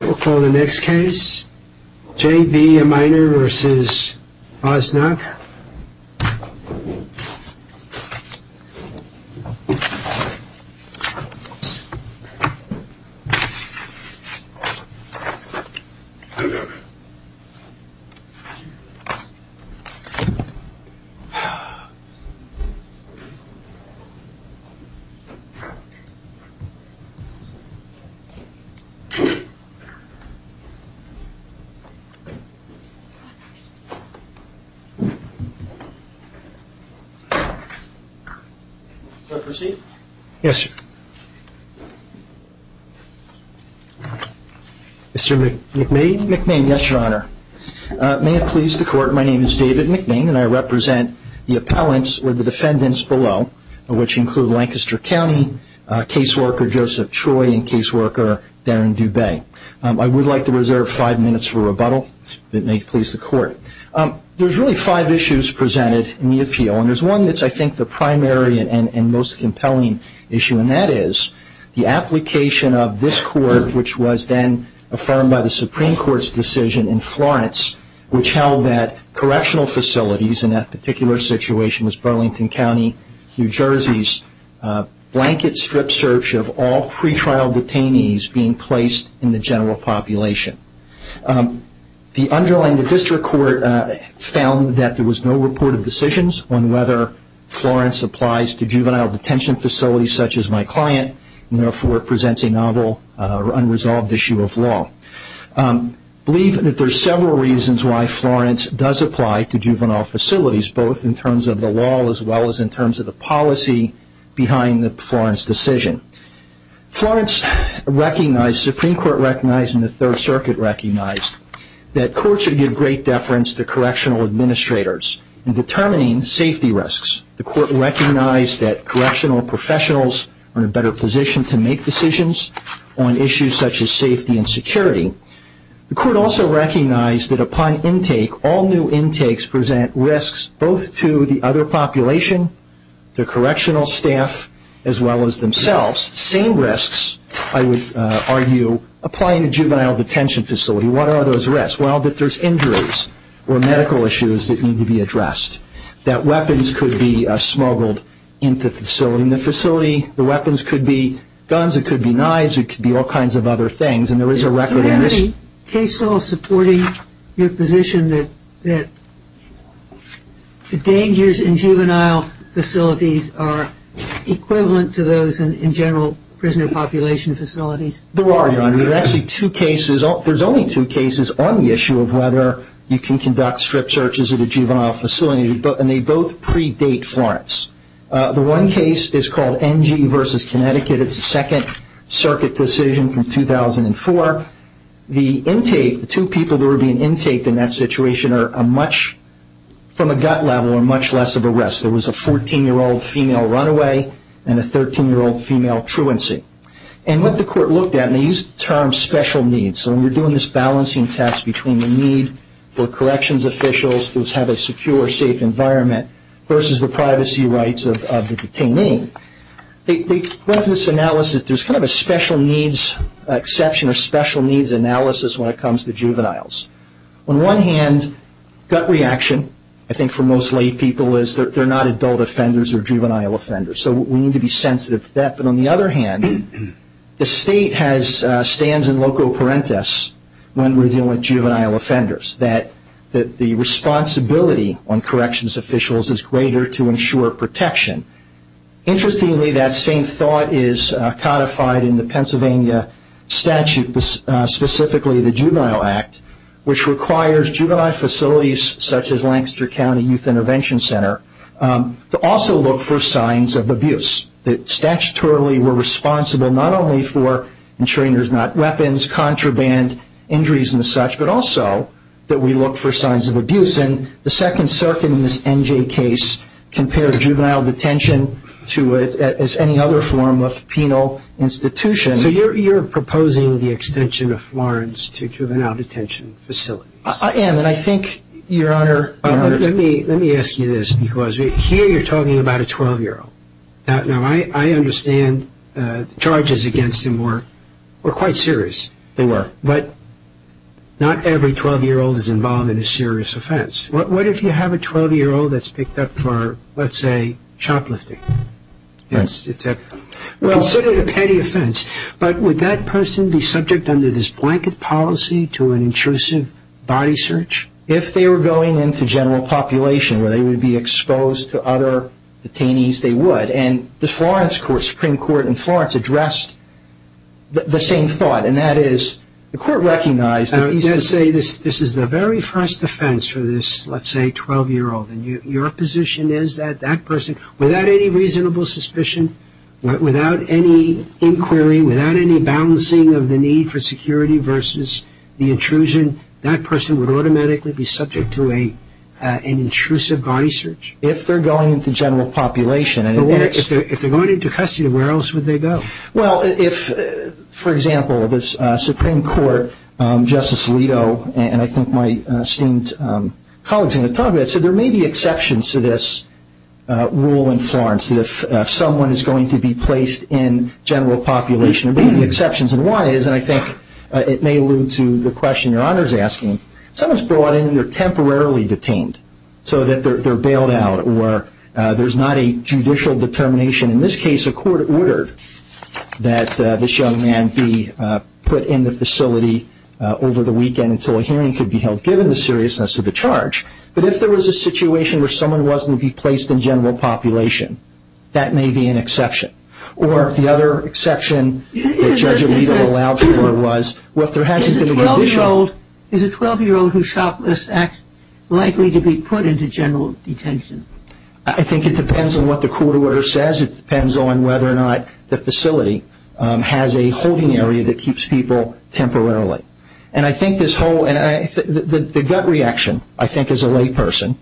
We'll call the next case, J.B. Eminer v. Osnock. May it please the Court, my name is David McMain and I represent the appellants or the defendants below, which include Lancaster County caseworker Joseph Troy and caseworker Darren Dubay. I would like to reserve five minutes for rebuttal, if it may please the Court. There's really five issues presented in the appeal and there's one that's I think the primary and most compelling issue and that is the application of this Court, which was then affirmed by the Supreme Court's decision in Florence, which held that correctional facilities in that particular situation was Burlington County, New Jersey's, blanket strip search of all pre-trial detainees being placed in the general population. The underlying district court found that there was no reported decisions on whether Florence applies to juvenile detention facilities such as my client and therefore presents a novel or unresolved issue of law. Believe that there's several reasons why Florence does apply to juvenile facilities, both in Florence recognized, the Supreme Court recognized and the Third Circuit recognized that courts should give great deference to correctional administrators in determining safety risks. The Court recognized that correctional professionals are in a better position to make decisions on issues such as safety and security. The Court also recognized that upon intake, all new intakes present risks both to the other population, the correctional staff, as well as themselves. Same risks, I would argue, apply in a juvenile detention facility. What are those risks? Well, that there's injuries or medical issues that need to be addressed. That weapons could be smuggled into the facility. The weapons could be guns, it could be knives, it could be all kinds of other things and there is a record of this. Is the case still supporting your position that the dangers in juvenile facilities are equivalent to those in general prisoner population facilities? There are, Your Honor. There are actually two cases, there's only two cases on the issue of whether you can conduct strip searches at a juvenile facility and they both predate Florence. The one case is called NG versus Connecticut, it's a Second Circuit decision from 2004. The intake, the two people that were being intaked in that situation are much, from a gut level, are much less of a risk. There was a 14-year-old female runaway and a 13-year-old female truancy. And what the Court looked at, and they used the term special needs, so when you're doing this balancing test between the need for corrections officials to have a secure, safe environment versus the privacy rights of the detainee, they went to this analysis, there's kind of a special needs exception or special needs analysis when it comes to juveniles. On one hand, gut reaction, I think for most lay people, is they're not adult offenders or juvenile offenders, so we need to be sensitive to that, but on the other hand, the State has, stands in loco parentis when we're dealing with juvenile offenders, that the responsibility on corrections officials is greater to ensure protection. Interestingly, that same thought is codified in the Pennsylvania statute, specifically the Juvenile Act, which requires juvenile facilities such as Lancaster County Youth Intervention Center to also look for signs of abuse. That statutorily we're responsible not only for ensuring there's not weapons, contraband, injuries and such, but also that we look for signs of abuse. And the second circuit in this NJ case compared juvenile detention to any other form of penal institution. So you're proposing the extension of Florence to juvenile detention facilities? I am, and I think, Your Honor... Let me ask you this, because here you're talking about a 12-year-old. I understand the charges against him were quite serious, but not every 12-year-old is a serious offense. What if you have a 12-year-old that's picked up for, let's say, shoplifting? It's considered a petty offense, but would that person be subject under this blanket policy to an intrusive body search? If they were going into general population, where they would be exposed to other detainees, they would. And the Florence Court, Supreme Court in Florence, addressed the same thought, and that is, the defense for this, let's say, 12-year-old, and your position is that that person, without any reasonable suspicion, without any inquiry, without any balancing of the need for security versus the intrusion, that person would automatically be subject to an intrusive body search? If they're going into general population, and if they're going into custody, where else would they go? Well, if, for example, the Supreme Court, Justice Alito, and I think my esteemed colleagues in the Congress, said there may be exceptions to this rule in Florence, that if someone is going to be placed in general population, there may be exceptions. And why is, and I think it may allude to the question Your Honor is asking, someone's brought in and they're temporarily detained, so that they're bailed out, or there's not a judicial determination. In this case, a court ordered that this young man be put in the facility over the weekend until a hearing could be held, given the seriousness of the charge. But if there was a situation where someone wasn't to be placed in general population, that may be an exception. Or the other exception that Judge Alito allowed for was, well, if there hasn't been a judicial Is a 12-year-old, is a 12-year-old who shoplifts likely to be put into general detention? I think it depends on what the court order says. It depends on whether or not the facility has a holding area that keeps people temporarily. And I think this whole, the gut reaction, I think, as a layperson,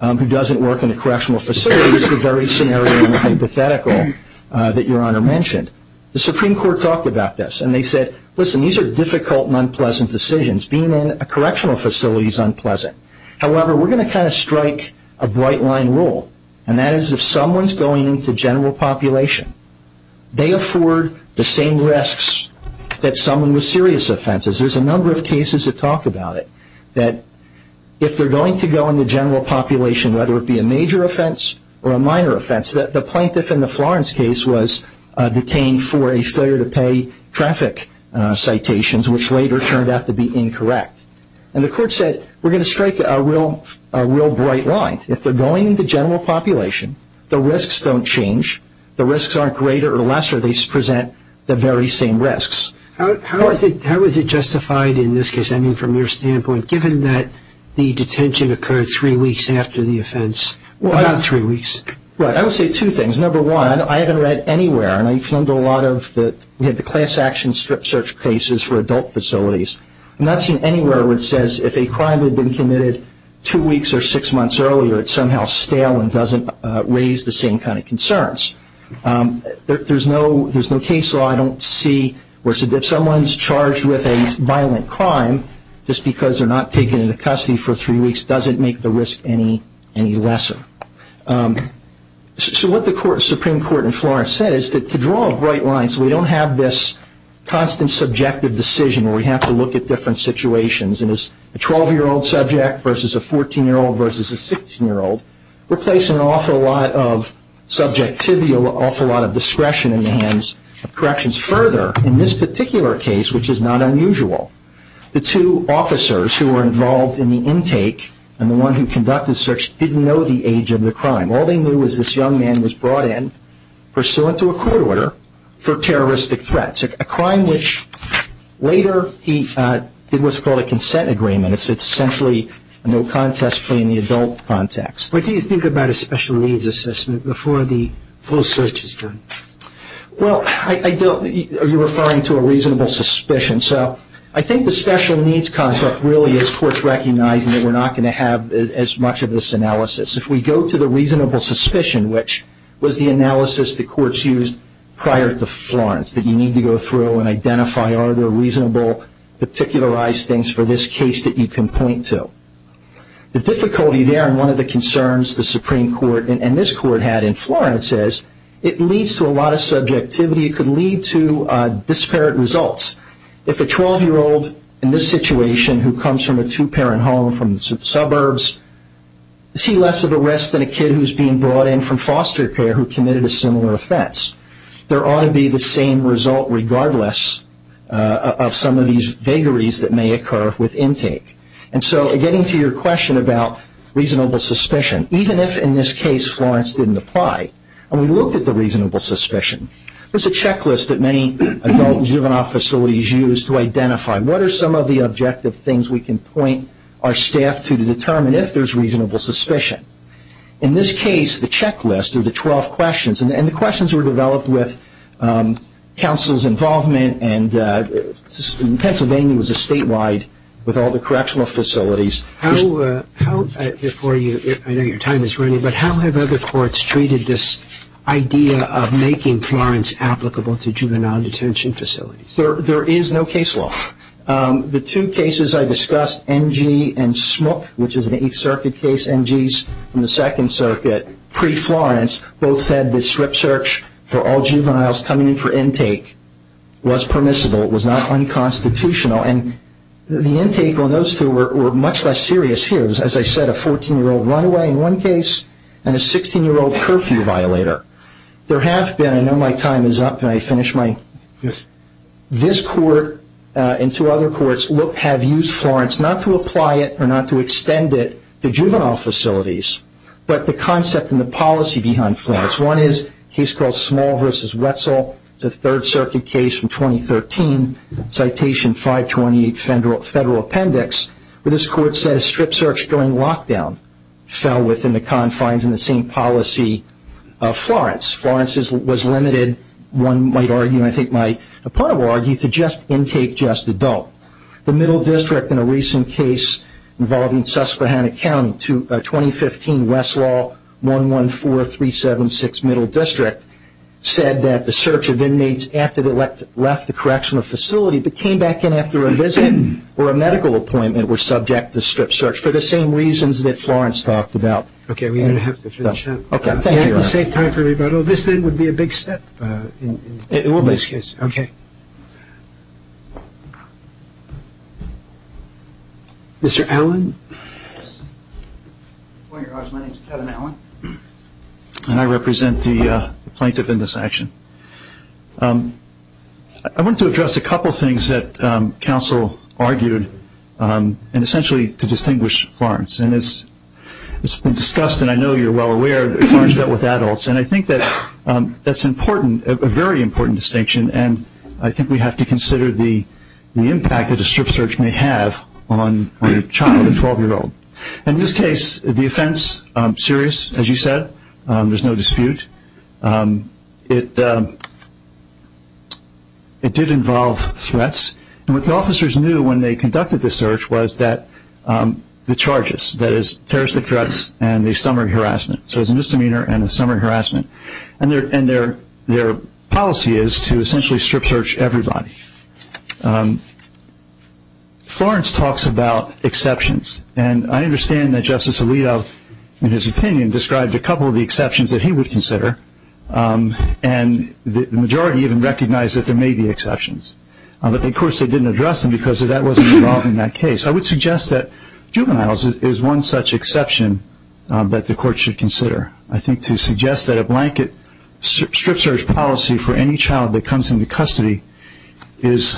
who doesn't work in a correctional facility, is the very scenario and hypothetical that Your Honor mentioned. The Supreme Court talked about this, and they said, listen, these are difficult and unpleasant decisions. Being in a correctional facility is unpleasant. However, we're going to kind of strike a bright-line rule, and that is if someone's going into general population, they afford the same risks that someone with serious offenses. There's a number of cases that talk about it, that if they're going to go into general population, whether it be a major offense or a minor offense. The plaintiff in the Florence case was detained for a failure to pay traffic citations, which later turned out to be incorrect. And the court said, we're going to strike a real bright line. If they're going into general population, the risks don't change. The risks aren't greater or lesser, they just present the very same risks. How is it justified in this case, I mean, from your standpoint, given that the detention occurred three weeks after the offense, or not three weeks? Well, I would say two things. Number one, I haven't read anywhere, and I've filmed a lot of the class action strip search cases for adult facilities. I've not seen anywhere where it says if a crime had been committed two weeks or six months earlier, it's somehow stale and doesn't raise the same kind of concerns. There's no case law I don't see where if someone's charged with a violent crime, just because they're not taken into custody for three weeks doesn't make the risk any lesser. So what the Supreme Court in Florence said is that to draw a bright line so we don't have this constant subjective decision where we have to look at different situations and it's a 12-year-old subject versus a 14-year-old versus a 16-year-old, we're placing an awful lot of subjectivity, an awful lot of discretion in the hands of corrections. Further, in this particular case, which is not unusual, the two officers who were involved in the intake and the one who conducted the search didn't know the age of the crime. All they knew was this young man was brought in pursuant to a court order for terroristic threats, a crime which later he did what's called a consent agreement. It's essentially a no-contest claim in the adult context. But do you think about a special needs assessment before the full search is done? Well, I don't. Are you referring to a reasonable suspicion? So I think the special needs concept really is courts recognizing that we're not going to have as much of this analysis. If we go to the reasonable suspicion, which was the analysis the courts used prior to Florence that you need to go through and identify are there reasonable, particularized things for this case that you can point to, the difficulty there and one of the concerns the Supreme Court and this Court had in Florence is it leads to a lot of subjectivity, it could lead to disparate results. If a 12-year-old in this situation who comes from a two-parent home from the suburbs, is likely less of a risk than a kid who's being brought in from foster care who committed a similar offense. There ought to be the same result regardless of some of these vagaries that may occur with intake. And so getting to your question about reasonable suspicion, even if in this case Florence didn't apply and we looked at the reasonable suspicion, there's a checklist that many adult and juvenile facilities use to identify what are some of the objective things we can point our staff to determine if there's reasonable suspicion. In this case the checklist or the 12 questions, and the questions were developed with counsel's involvement and Pennsylvania was a statewide with all the correctional facilities. How, before you, I know your time is running, but how have other courts treated this idea of making Florence applicable to juvenile detention facilities? There is no case law. The two cases I discussed, NG and Smook, which is an Eighth Circuit case, NGs from the Second Circuit pre-Florence, both said that strip search for all juveniles coming in for intake was permissible, it was not unconstitutional, and the intake on those two were much less serious here. It was, as I said, a 14-year-old runaway in one case and a 16-year-old curfew violator. There have been, and I know my time is up and I finished my, this court and two other courts have used Florence, not to apply it or not to extend it to juvenile facilities, but the concept and the policy behind Florence. One is a case called Small v. Wetzel, it's a Third Circuit case from 2013, Citation 528 Federal Appendix, where this court said strip search during lockdown fell within the confines of the same policy of Florence. Florence was limited, one might argue, and I think my opponent will argue, to just intake, just adult. The Middle District, in a recent case involving Susquehanna County, 2015 Westlaw 114376 Middle District, said that the search of inmates after they left the correctional facility but came back in after a visit or a medical appointment were subject to strip search, for the same reasons that Florence talked about. Okay, we're going to have to finish up. Okay, thank you. We have to save time for rebuttal. This then would be a big step in this case. It will be. Okay. Mr. Allen? Point of order. My name is Kevin Allen, and I represent the plaintiff in this action. I want to address a couple things that counsel argued, and essentially to distinguish Florence. It's been discussed, and I know you're well aware, that Florence dealt with adults, and I think that's important, a very important distinction, and I think we have to consider the impact that a strip search may have on a child, a 12-year-old. In this case, the offense, serious, as you said, there's no dispute. It did involve threats, and what the officers knew when they conducted the search was that the charges, that is, terroristic threats and a summary harassment, so there's a misdemeanor and a summary harassment, and their policy is to essentially strip search everybody. Florence talks about exceptions, and I understand that Justice Alito, in his opinion, described a couple of the exceptions that he would consider, and the majority even recognized that there may be exceptions, but of course they didn't address them because that wasn't involved in that case. I would suggest that juveniles is one such exception that the court should consider. I think to suggest that a blanket strip search policy for any child that comes into custody is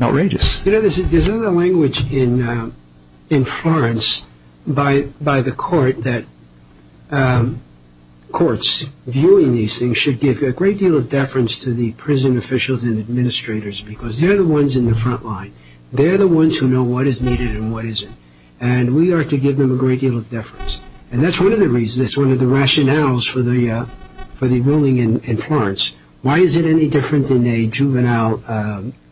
outrageous. You know, there's another language in Florence by the court that courts viewing these things should give a great deal of deference to the prison officials and administrators because they're the ones in the front line. They're the ones who know what is needed and what isn't, and we ought to give them a great deal of deference, and that's one of the reasons, that's one of the rationales for the ruling in Florence. Why is it any different than a juvenile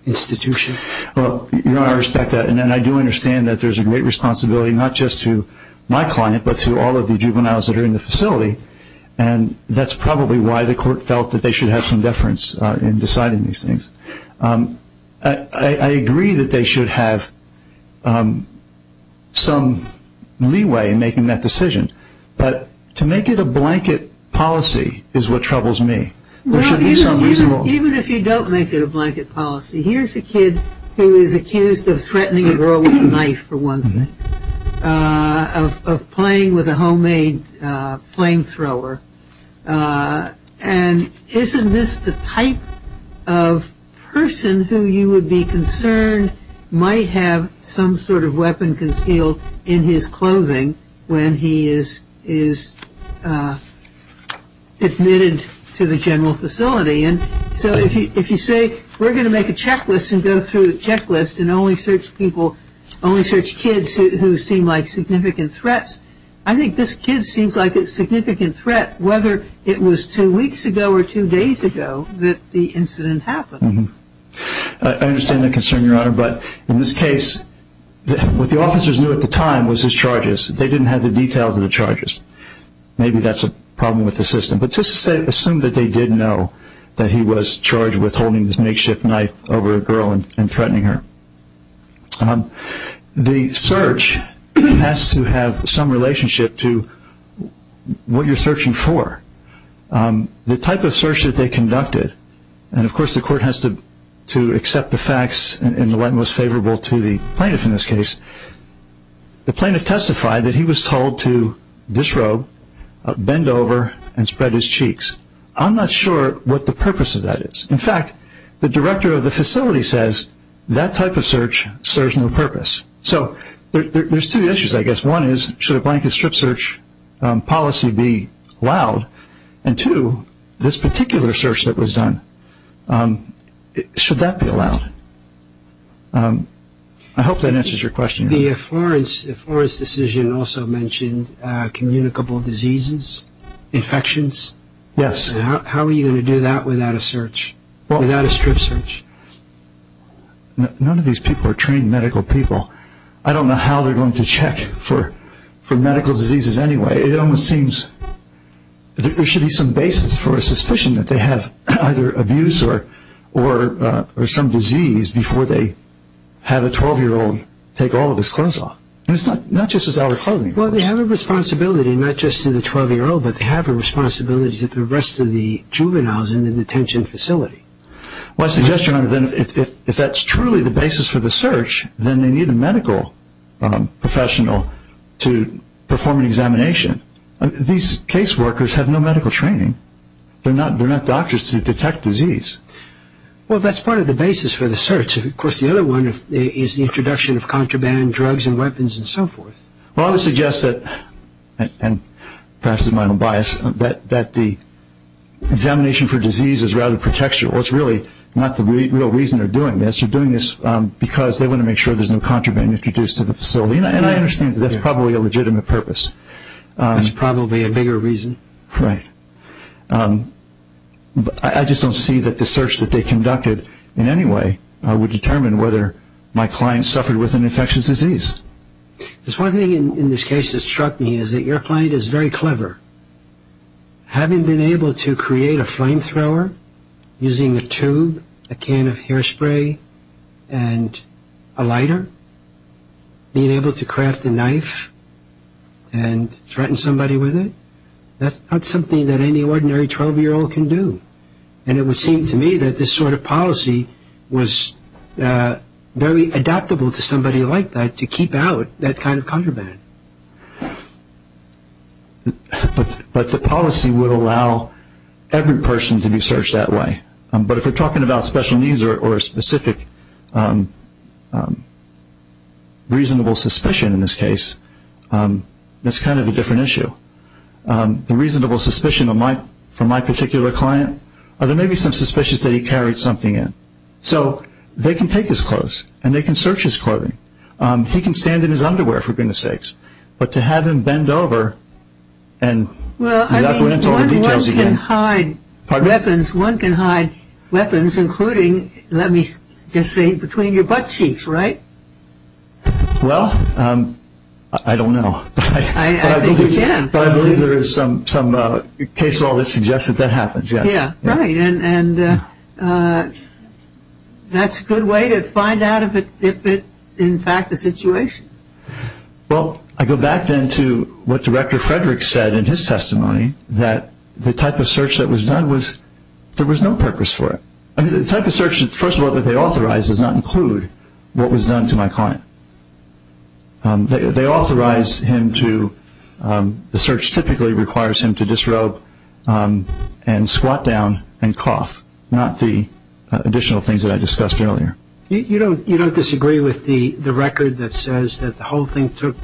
institution? Well, Your Honor, I respect that, and I do understand that there's a great responsibility not just to my client but to all of the juveniles that are in the facility, and that's probably why the court felt that they should have some deference in deciding these things. I agree that they should have some leeway in making that decision, but to make it a blanket policy is what troubles me. There should be some reason why. Even if you don't make it a blanket policy, here's a kid who is accused of threatening a girl with a knife, for one thing, of playing with a homemade flamethrower, and isn't this the type of person who you would be concerned might have some sort of weapon concealed in his clothing when he is admitted to the general facility? So if you say, we're going to make a checklist and go through the checklist and only search people, only search kids who seem like significant threats, I think this kid seems like a significant threat whether it was two weeks ago or two days ago that the incident happened. I understand that concern, Your Honor, but in this case, what the officers knew at the time was his charges. They didn't have the details of the charges. Maybe that's a problem with the system, but just assume that they did know that he was The search has to have some relationship to what you're searching for. The type of search that they conducted, and of course the court has to accept the facts in the light most favorable to the plaintiff in this case, the plaintiff testified that he was told to disrobe, bend over, and spread his cheeks. I'm not sure what the purpose of that is. In fact, the director of the facility says that type of search serves no purpose. So there's two issues, I guess. One is, should a blanket strip search policy be allowed? And two, this particular search that was done, should that be allowed? I hope that answers your question. The Florence decision also mentioned communicable diseases, infections. Yes. How are you going to do that without a search, without a strip search? None of these people are trained medical people. I don't know how they're going to check for medical diseases anyway. It almost seems that there should be some basis for a suspicion that they have either abuse or some disease before they have a 12-year-old take all of his clothes off. And it's not just his outer clothing. Well, they have a responsibility, not just to the 12-year-old, but they have a responsibility to the rest of the juveniles in the detention facility. Well, I suggest, Your Honor, that if that's truly the basis for the search, then they need a medical professional to perform an examination. These case workers have no medical training. They're not doctors to detect disease. Well, that's part of the basis for the search. Of course, the other one is the introduction of contraband drugs and weapons and so forth. Well, I would suggest that, and perhaps this is my own bias, that the examination for disease is rather pretextual. It's really not the real reason they're doing this. They're doing this because they want to make sure there's no contraband introduced to the facility. And I understand that that's probably a legitimate purpose. It's probably a bigger reason. Right. But I just don't see that the search that they conducted in any way would determine whether my client suffered with an infectious disease. There's one thing in this case that struck me, is that your client is very clever. Having been able to create a flamethrower using a tube, a can of hairspray, and a lighter, being able to craft a knife and threaten somebody with it, that's not something that any ordinary 12-year-old can do. And it would seem to me that this sort of policy was very adaptable to somebody like that to keep out that kind of contraband. But the policy would allow every person to be searched that way. But if we're talking about special needs or a specific reasonable suspicion in this case, that's kind of a different issue. The reasonable suspicion for my particular client, there may be some suspicions that he carried something in. So they can take his clothes, and they can search his clothing. He can stand in his underwear, for goodness sakes. But to have him bend over and not go into all the details again... Well, I mean, one can hide weapons, including, let me just say, between your butt cheeks, right? Well, I don't know. I think you can. But I believe there is some case law that suggests that that happens, yes. Yeah, right. And that's a good way to find out if it's, in fact, a situation. Well, I go back then to what Director Frederick said in his testimony, that the type of search that was done, there was no purpose for it. The type of search, first of all, that they authorized does not include what was done to my client. They authorized him to... The search typically requires him to disrobe and squat down and cough, not the additional things that I discussed earlier. You don't disagree with the record that says that the whole thing took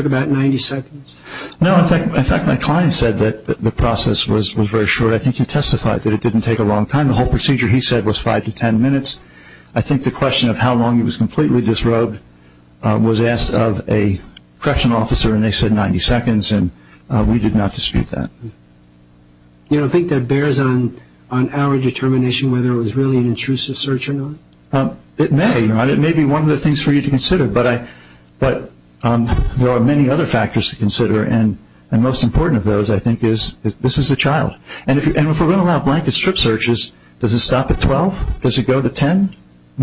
about 90 seconds? No, in fact, my client said that the process was very short. I think he testified that it didn't take a long time. The whole procedure, he said, was 5 to 10 minutes. I think the question of how long he was completely disrobed was asked of a correctional officer and they said 90 seconds, and we did not dispute that. You don't think that bears on our determination whether it was really an intrusive search or not? It may. It may be one of the things for you to consider. But there are many other factors to consider, and the most important of those, I think, is this is a child. And if we're going to allow blanket strip searches, does it stop at 12? Does it go to 10?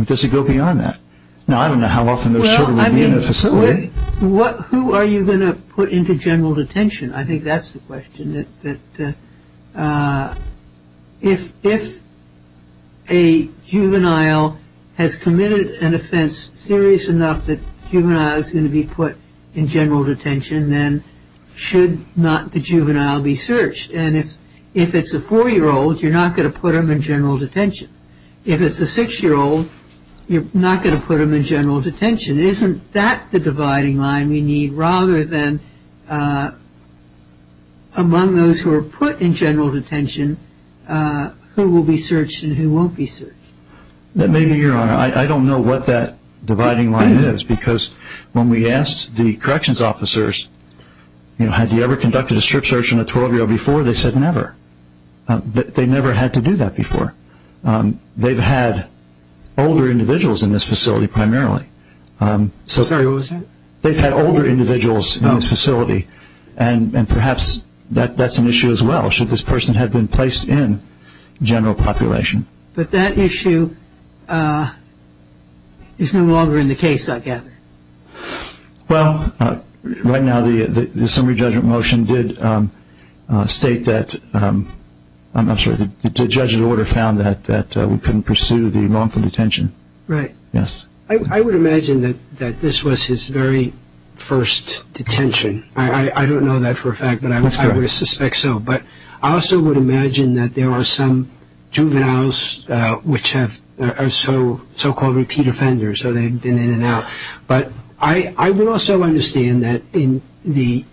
Does it go beyond that? Now, I don't know how often those sort of would be in a facility. Well, I mean, who are you going to put into general detention? I think that's the question, that if a juvenile has committed an offense serious enough that a juvenile is going to be put in general detention, then should not the juvenile be searched? And if it's a 4-year-old, you're not going to put them in general detention. If it's a 6-year-old, you're not going to put them in general detention. Isn't that the dividing line we need, rather than among those who are put in general detention, who will be searched and who won't be searched? That may be your honor. I don't know what that dividing line is, because when we asked the corrections officers, have you ever conducted a strip search on a 12-year-old before, they said never. They never had to do that before. They've had older individuals in this facility, primarily. Sorry, what was that? They've had older individuals in this facility, and perhaps that's an issue as well, should this person have been placed in general population. But that issue is no longer in the case, I gather. Well, right now the summary judgment motion did state that, I'm sorry, the judge of the order found that we couldn't pursue the wrongful detention. Right. Yes. I would imagine that this was his very first detention. I don't know that for a fact, but I would suspect so. But I also would imagine that there are some juveniles which are so-called repeat offenders, so they've been in and out. But I would also understand that the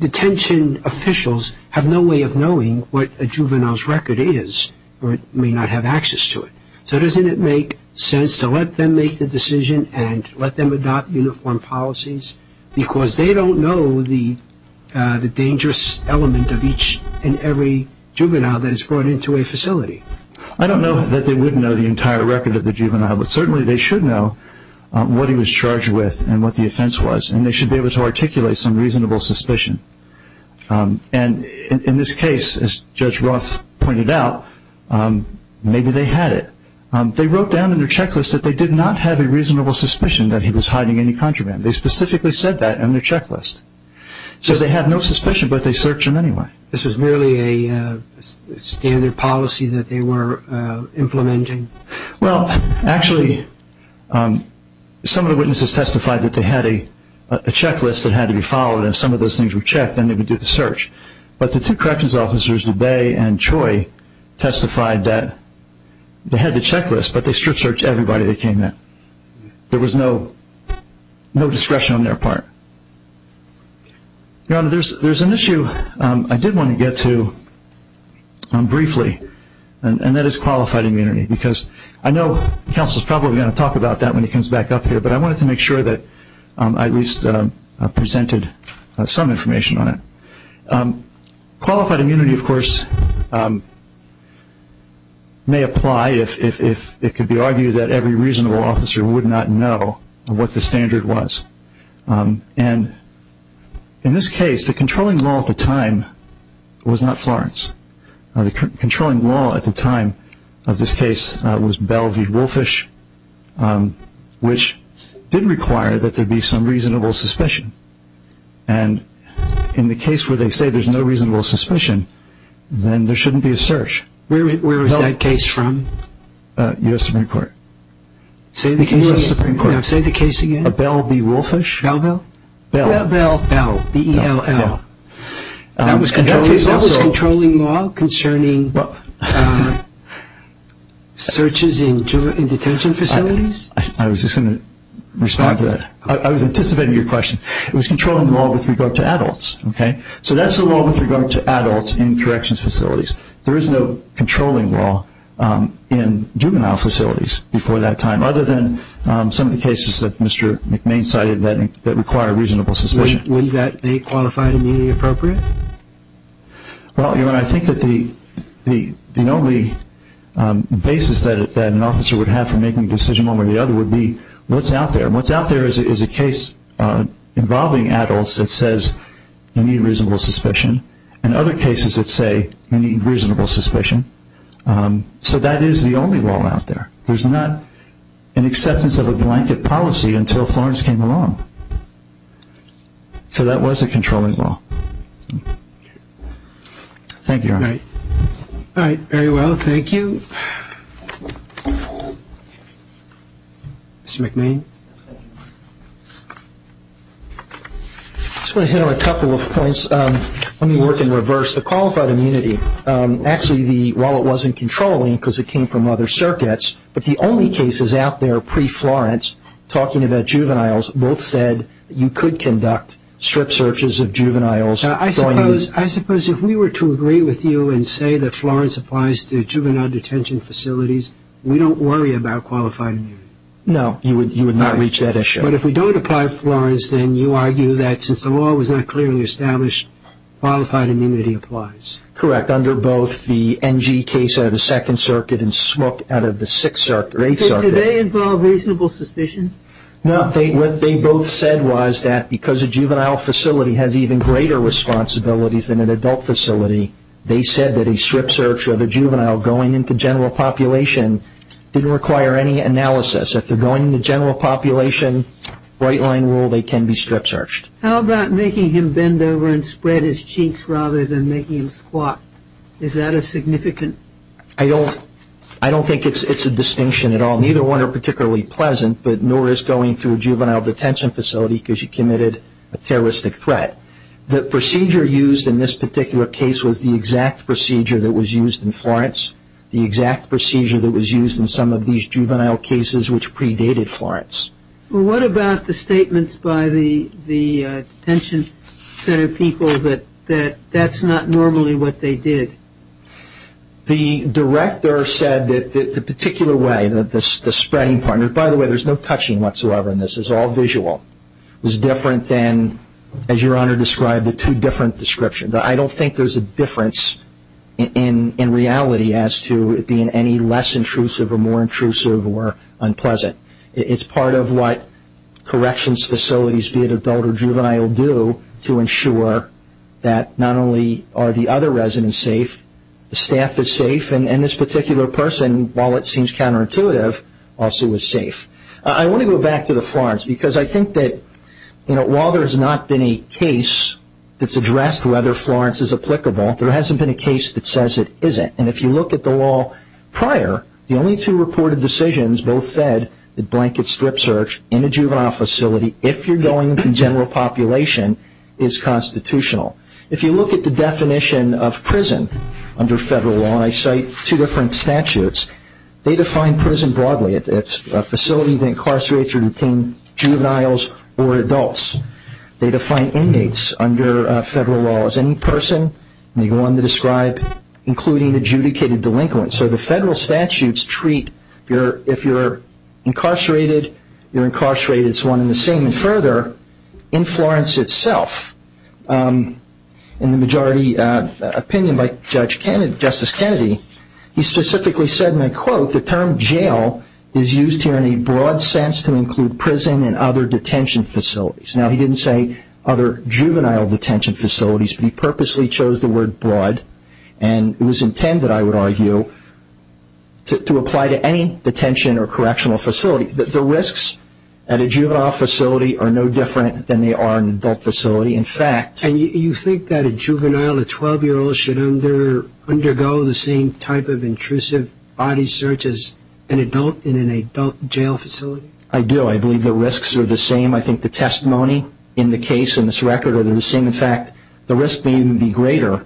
detention officials have no way of knowing what a juvenile's record is, or may not have access to it. So doesn't it make sense to let them make the decision and let them adopt uniform policies? Because they don't know the dangerous element of each and every juvenile that is brought into a facility. I don't know that they would know the entire record of the juvenile, but certainly they should know what he was charged with and what the offense was, and they should be able to articulate some reasonable suspicion. And in this case, as Judge Roth pointed out, maybe they had it. They wrote down in their checklist that they did not have a reasonable suspicion that he was hiding any contraband. They specifically said that in their checklist. So they had no suspicion, but they searched him anyway. This was merely a standard policy that they were implementing? Well, actually, some of the witnesses testified that they had a checklist that had to be followed, and if some of those things were checked, then they would do the search. But the two corrections officers, DeBay and Choi, testified that they had the checklist, but they strip-searched everybody they came in. There was no discretion on their part. Your Honor, there's an issue I did want to get to briefly, and that is qualified immunity. Because I know counsel is probably going to talk about that when he comes back up here, but I wanted to make sure that I at least presented some information on it. Qualified immunity, of course, may apply if it could be argued that every reasonable officer would not know what the standard was. And in this case, the controlling law at the time was not Florence. The controlling law at the time of this case was Bell v. Woolfish, which did require that there be some reasonable suspicion. And in the case where they say there's no reasonable suspicion, then there shouldn't be a search. Where was that case from? U.S. Supreme Court. Say the case again. Say the case again. A Bell v. Woolfish. Bell-Bell? Bell-Bell. Bell. B-E-L-L. That was controlling law concerning searches in detention facilities? I was just going to respond to that. I was anticipating your question. It was controlling law with regard to adults, okay? So that's the law with regard to adults in corrections facilities. There is no controlling law in juvenile facilities before that time, other than some of the cases that Mr. McMahon cited that require reasonable suspicion. Would that be qualified and immediately appropriate? Well, I think that the only basis that an officer would have for making a decision, one way or the other, would be what's out there. And what's out there is a case involving adults that says you need reasonable suspicion, and other cases that say you need reasonable suspicion. So that is the only law out there. There's not an acceptance of a blanket policy until Florence came along. So that was a controlling law. Thank you, Your Honor. All right. Very well. Thank you. Mr. McMahon? I just want to hit on a couple of points. Let me work in reverse. The qualified immunity, actually the wallet wasn't controlling because it came from other circuits, but the only cases out there pre-Florence, talking about juveniles, both said that you could conduct strict searches of juveniles. I suppose if we were to agree with you and say that Florence applies to juvenile detention facilities, we don't worry about qualified immunity. No, you would not reach that issue. But if we don't apply Florence, then you argue that since the law was not clearly established, qualified immunity applies. Correct. Under both the NG case out of the Second Circuit and Smook out of the Sixth Circuit or Eighth Circuit. So do they involve reasonable suspicion? No, what they both said was that because a juvenile facility has even greater responsibilities than an adult facility, they said that a strip search of a juvenile going into general population didn't require any analysis. If they're going into general population, right-line rule, they can be strip searched. How about making him bend over and spread his cheeks rather than making him squat? Is that a significant? I don't think it's a distinction at all. Neither one are particularly pleasant, but nor is going to a juvenile detention facility because you committed a terroristic threat. The procedure used in this particular case was the exact procedure that was used in Florence, the exact procedure that was used in some of these juvenile cases which predated Florence. What about the statements by the detention center people that that's not normally what they did? The director said that the particular way that the spreading partner, by the way, there's no touching whatsoever in this, it's all visual, was different than, as your Honor described, the two different descriptions. I don't think there's a difference in reality as to it being any less intrusive or more intrusive or unpleasant. It's part of what corrections facilities, be it adult or juvenile, do to ensure that not only are the other residents safe, the staff is safe, and this particular person, while it seems counterintuitive, also is safe. I want to go back to the Florence because I think that while there's not been a case that's addressed whether Florence is applicable, there hasn't been a case that says it isn't. If you look at the law prior, the only two reported decisions both said that blanket strip search in a juvenile facility, if you're going to general population, is constitutional. If you look at the definition of prison under federal law, and I cite two different statutes, they define prison broadly, it's a facility that incarcerates or detains juveniles or adults. They define inmates under federal law as any person, anyone to describe, including adjudicated delinquents. So the federal statutes treat, if you're incarcerated, you're incarcerated as one and further, in Florence itself. In the majority opinion by Justice Kennedy, he specifically said, and I quote, the term jail is used here in a broad sense to include prison and other detention facilities. Now, he didn't say other juvenile detention facilities, but he purposely chose the word broad, and it was intended, I would argue, to apply to any detention or correctional facility. The risks at a juvenile facility are no different than they are in an adult facility. In fact... And you think that a juvenile, a 12-year-old, should undergo the same type of intrusive body search as an adult in an adult jail facility? I do. I believe the risks are the same. I think the testimony in the case, in this record, are the same. In fact, the risk may even be greater.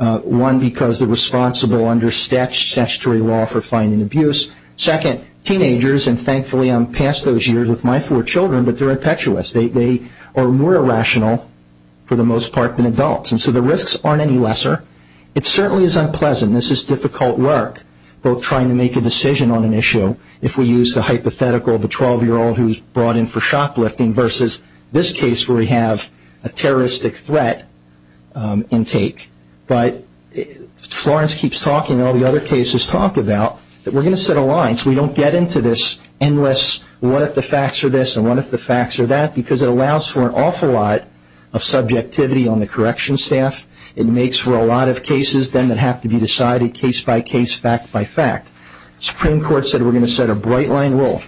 One, because they're responsible under statutory law for finding abuse. Second, teenagers, and thankfully I'm past those years with my four children, but they're impetuous. They are more irrational, for the most part, than adults. And so the risks aren't any lesser. It certainly is unpleasant. This is difficult work, both trying to make a decision on an issue, if we use the hypothetical of a 12-year-old who's brought in for shoplifting versus this case where we have a terroristic threat intake. But Florence keeps talking, all the other cases talk about, that we're going to set a line so we don't get into this endless, what if the facts are this and what if the facts are that, because it allows for an awful lot of subjectivity on the corrections staff. It makes for a lot of cases then that have to be decided case by case, fact by fact. Supreme Court said we're going to set a bright line rule.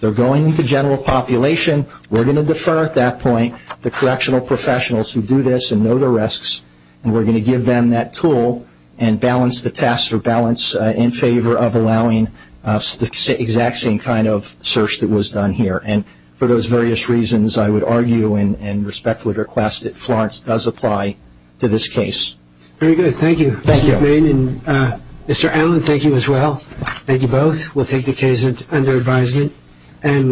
They're going to general population. We're going to defer at that point the correctional professionals who do this and know the risks. And we're going to give them that tool and balance the test or balance in favor of allowing the exact same kind of search that was done here. And for those various reasons, I would argue and respectfully request that Florence does apply to this case. Very good. Thank you, Mr. McMain. And Mr. Allen, thank you as well. We'll take the case under advisement. And we'll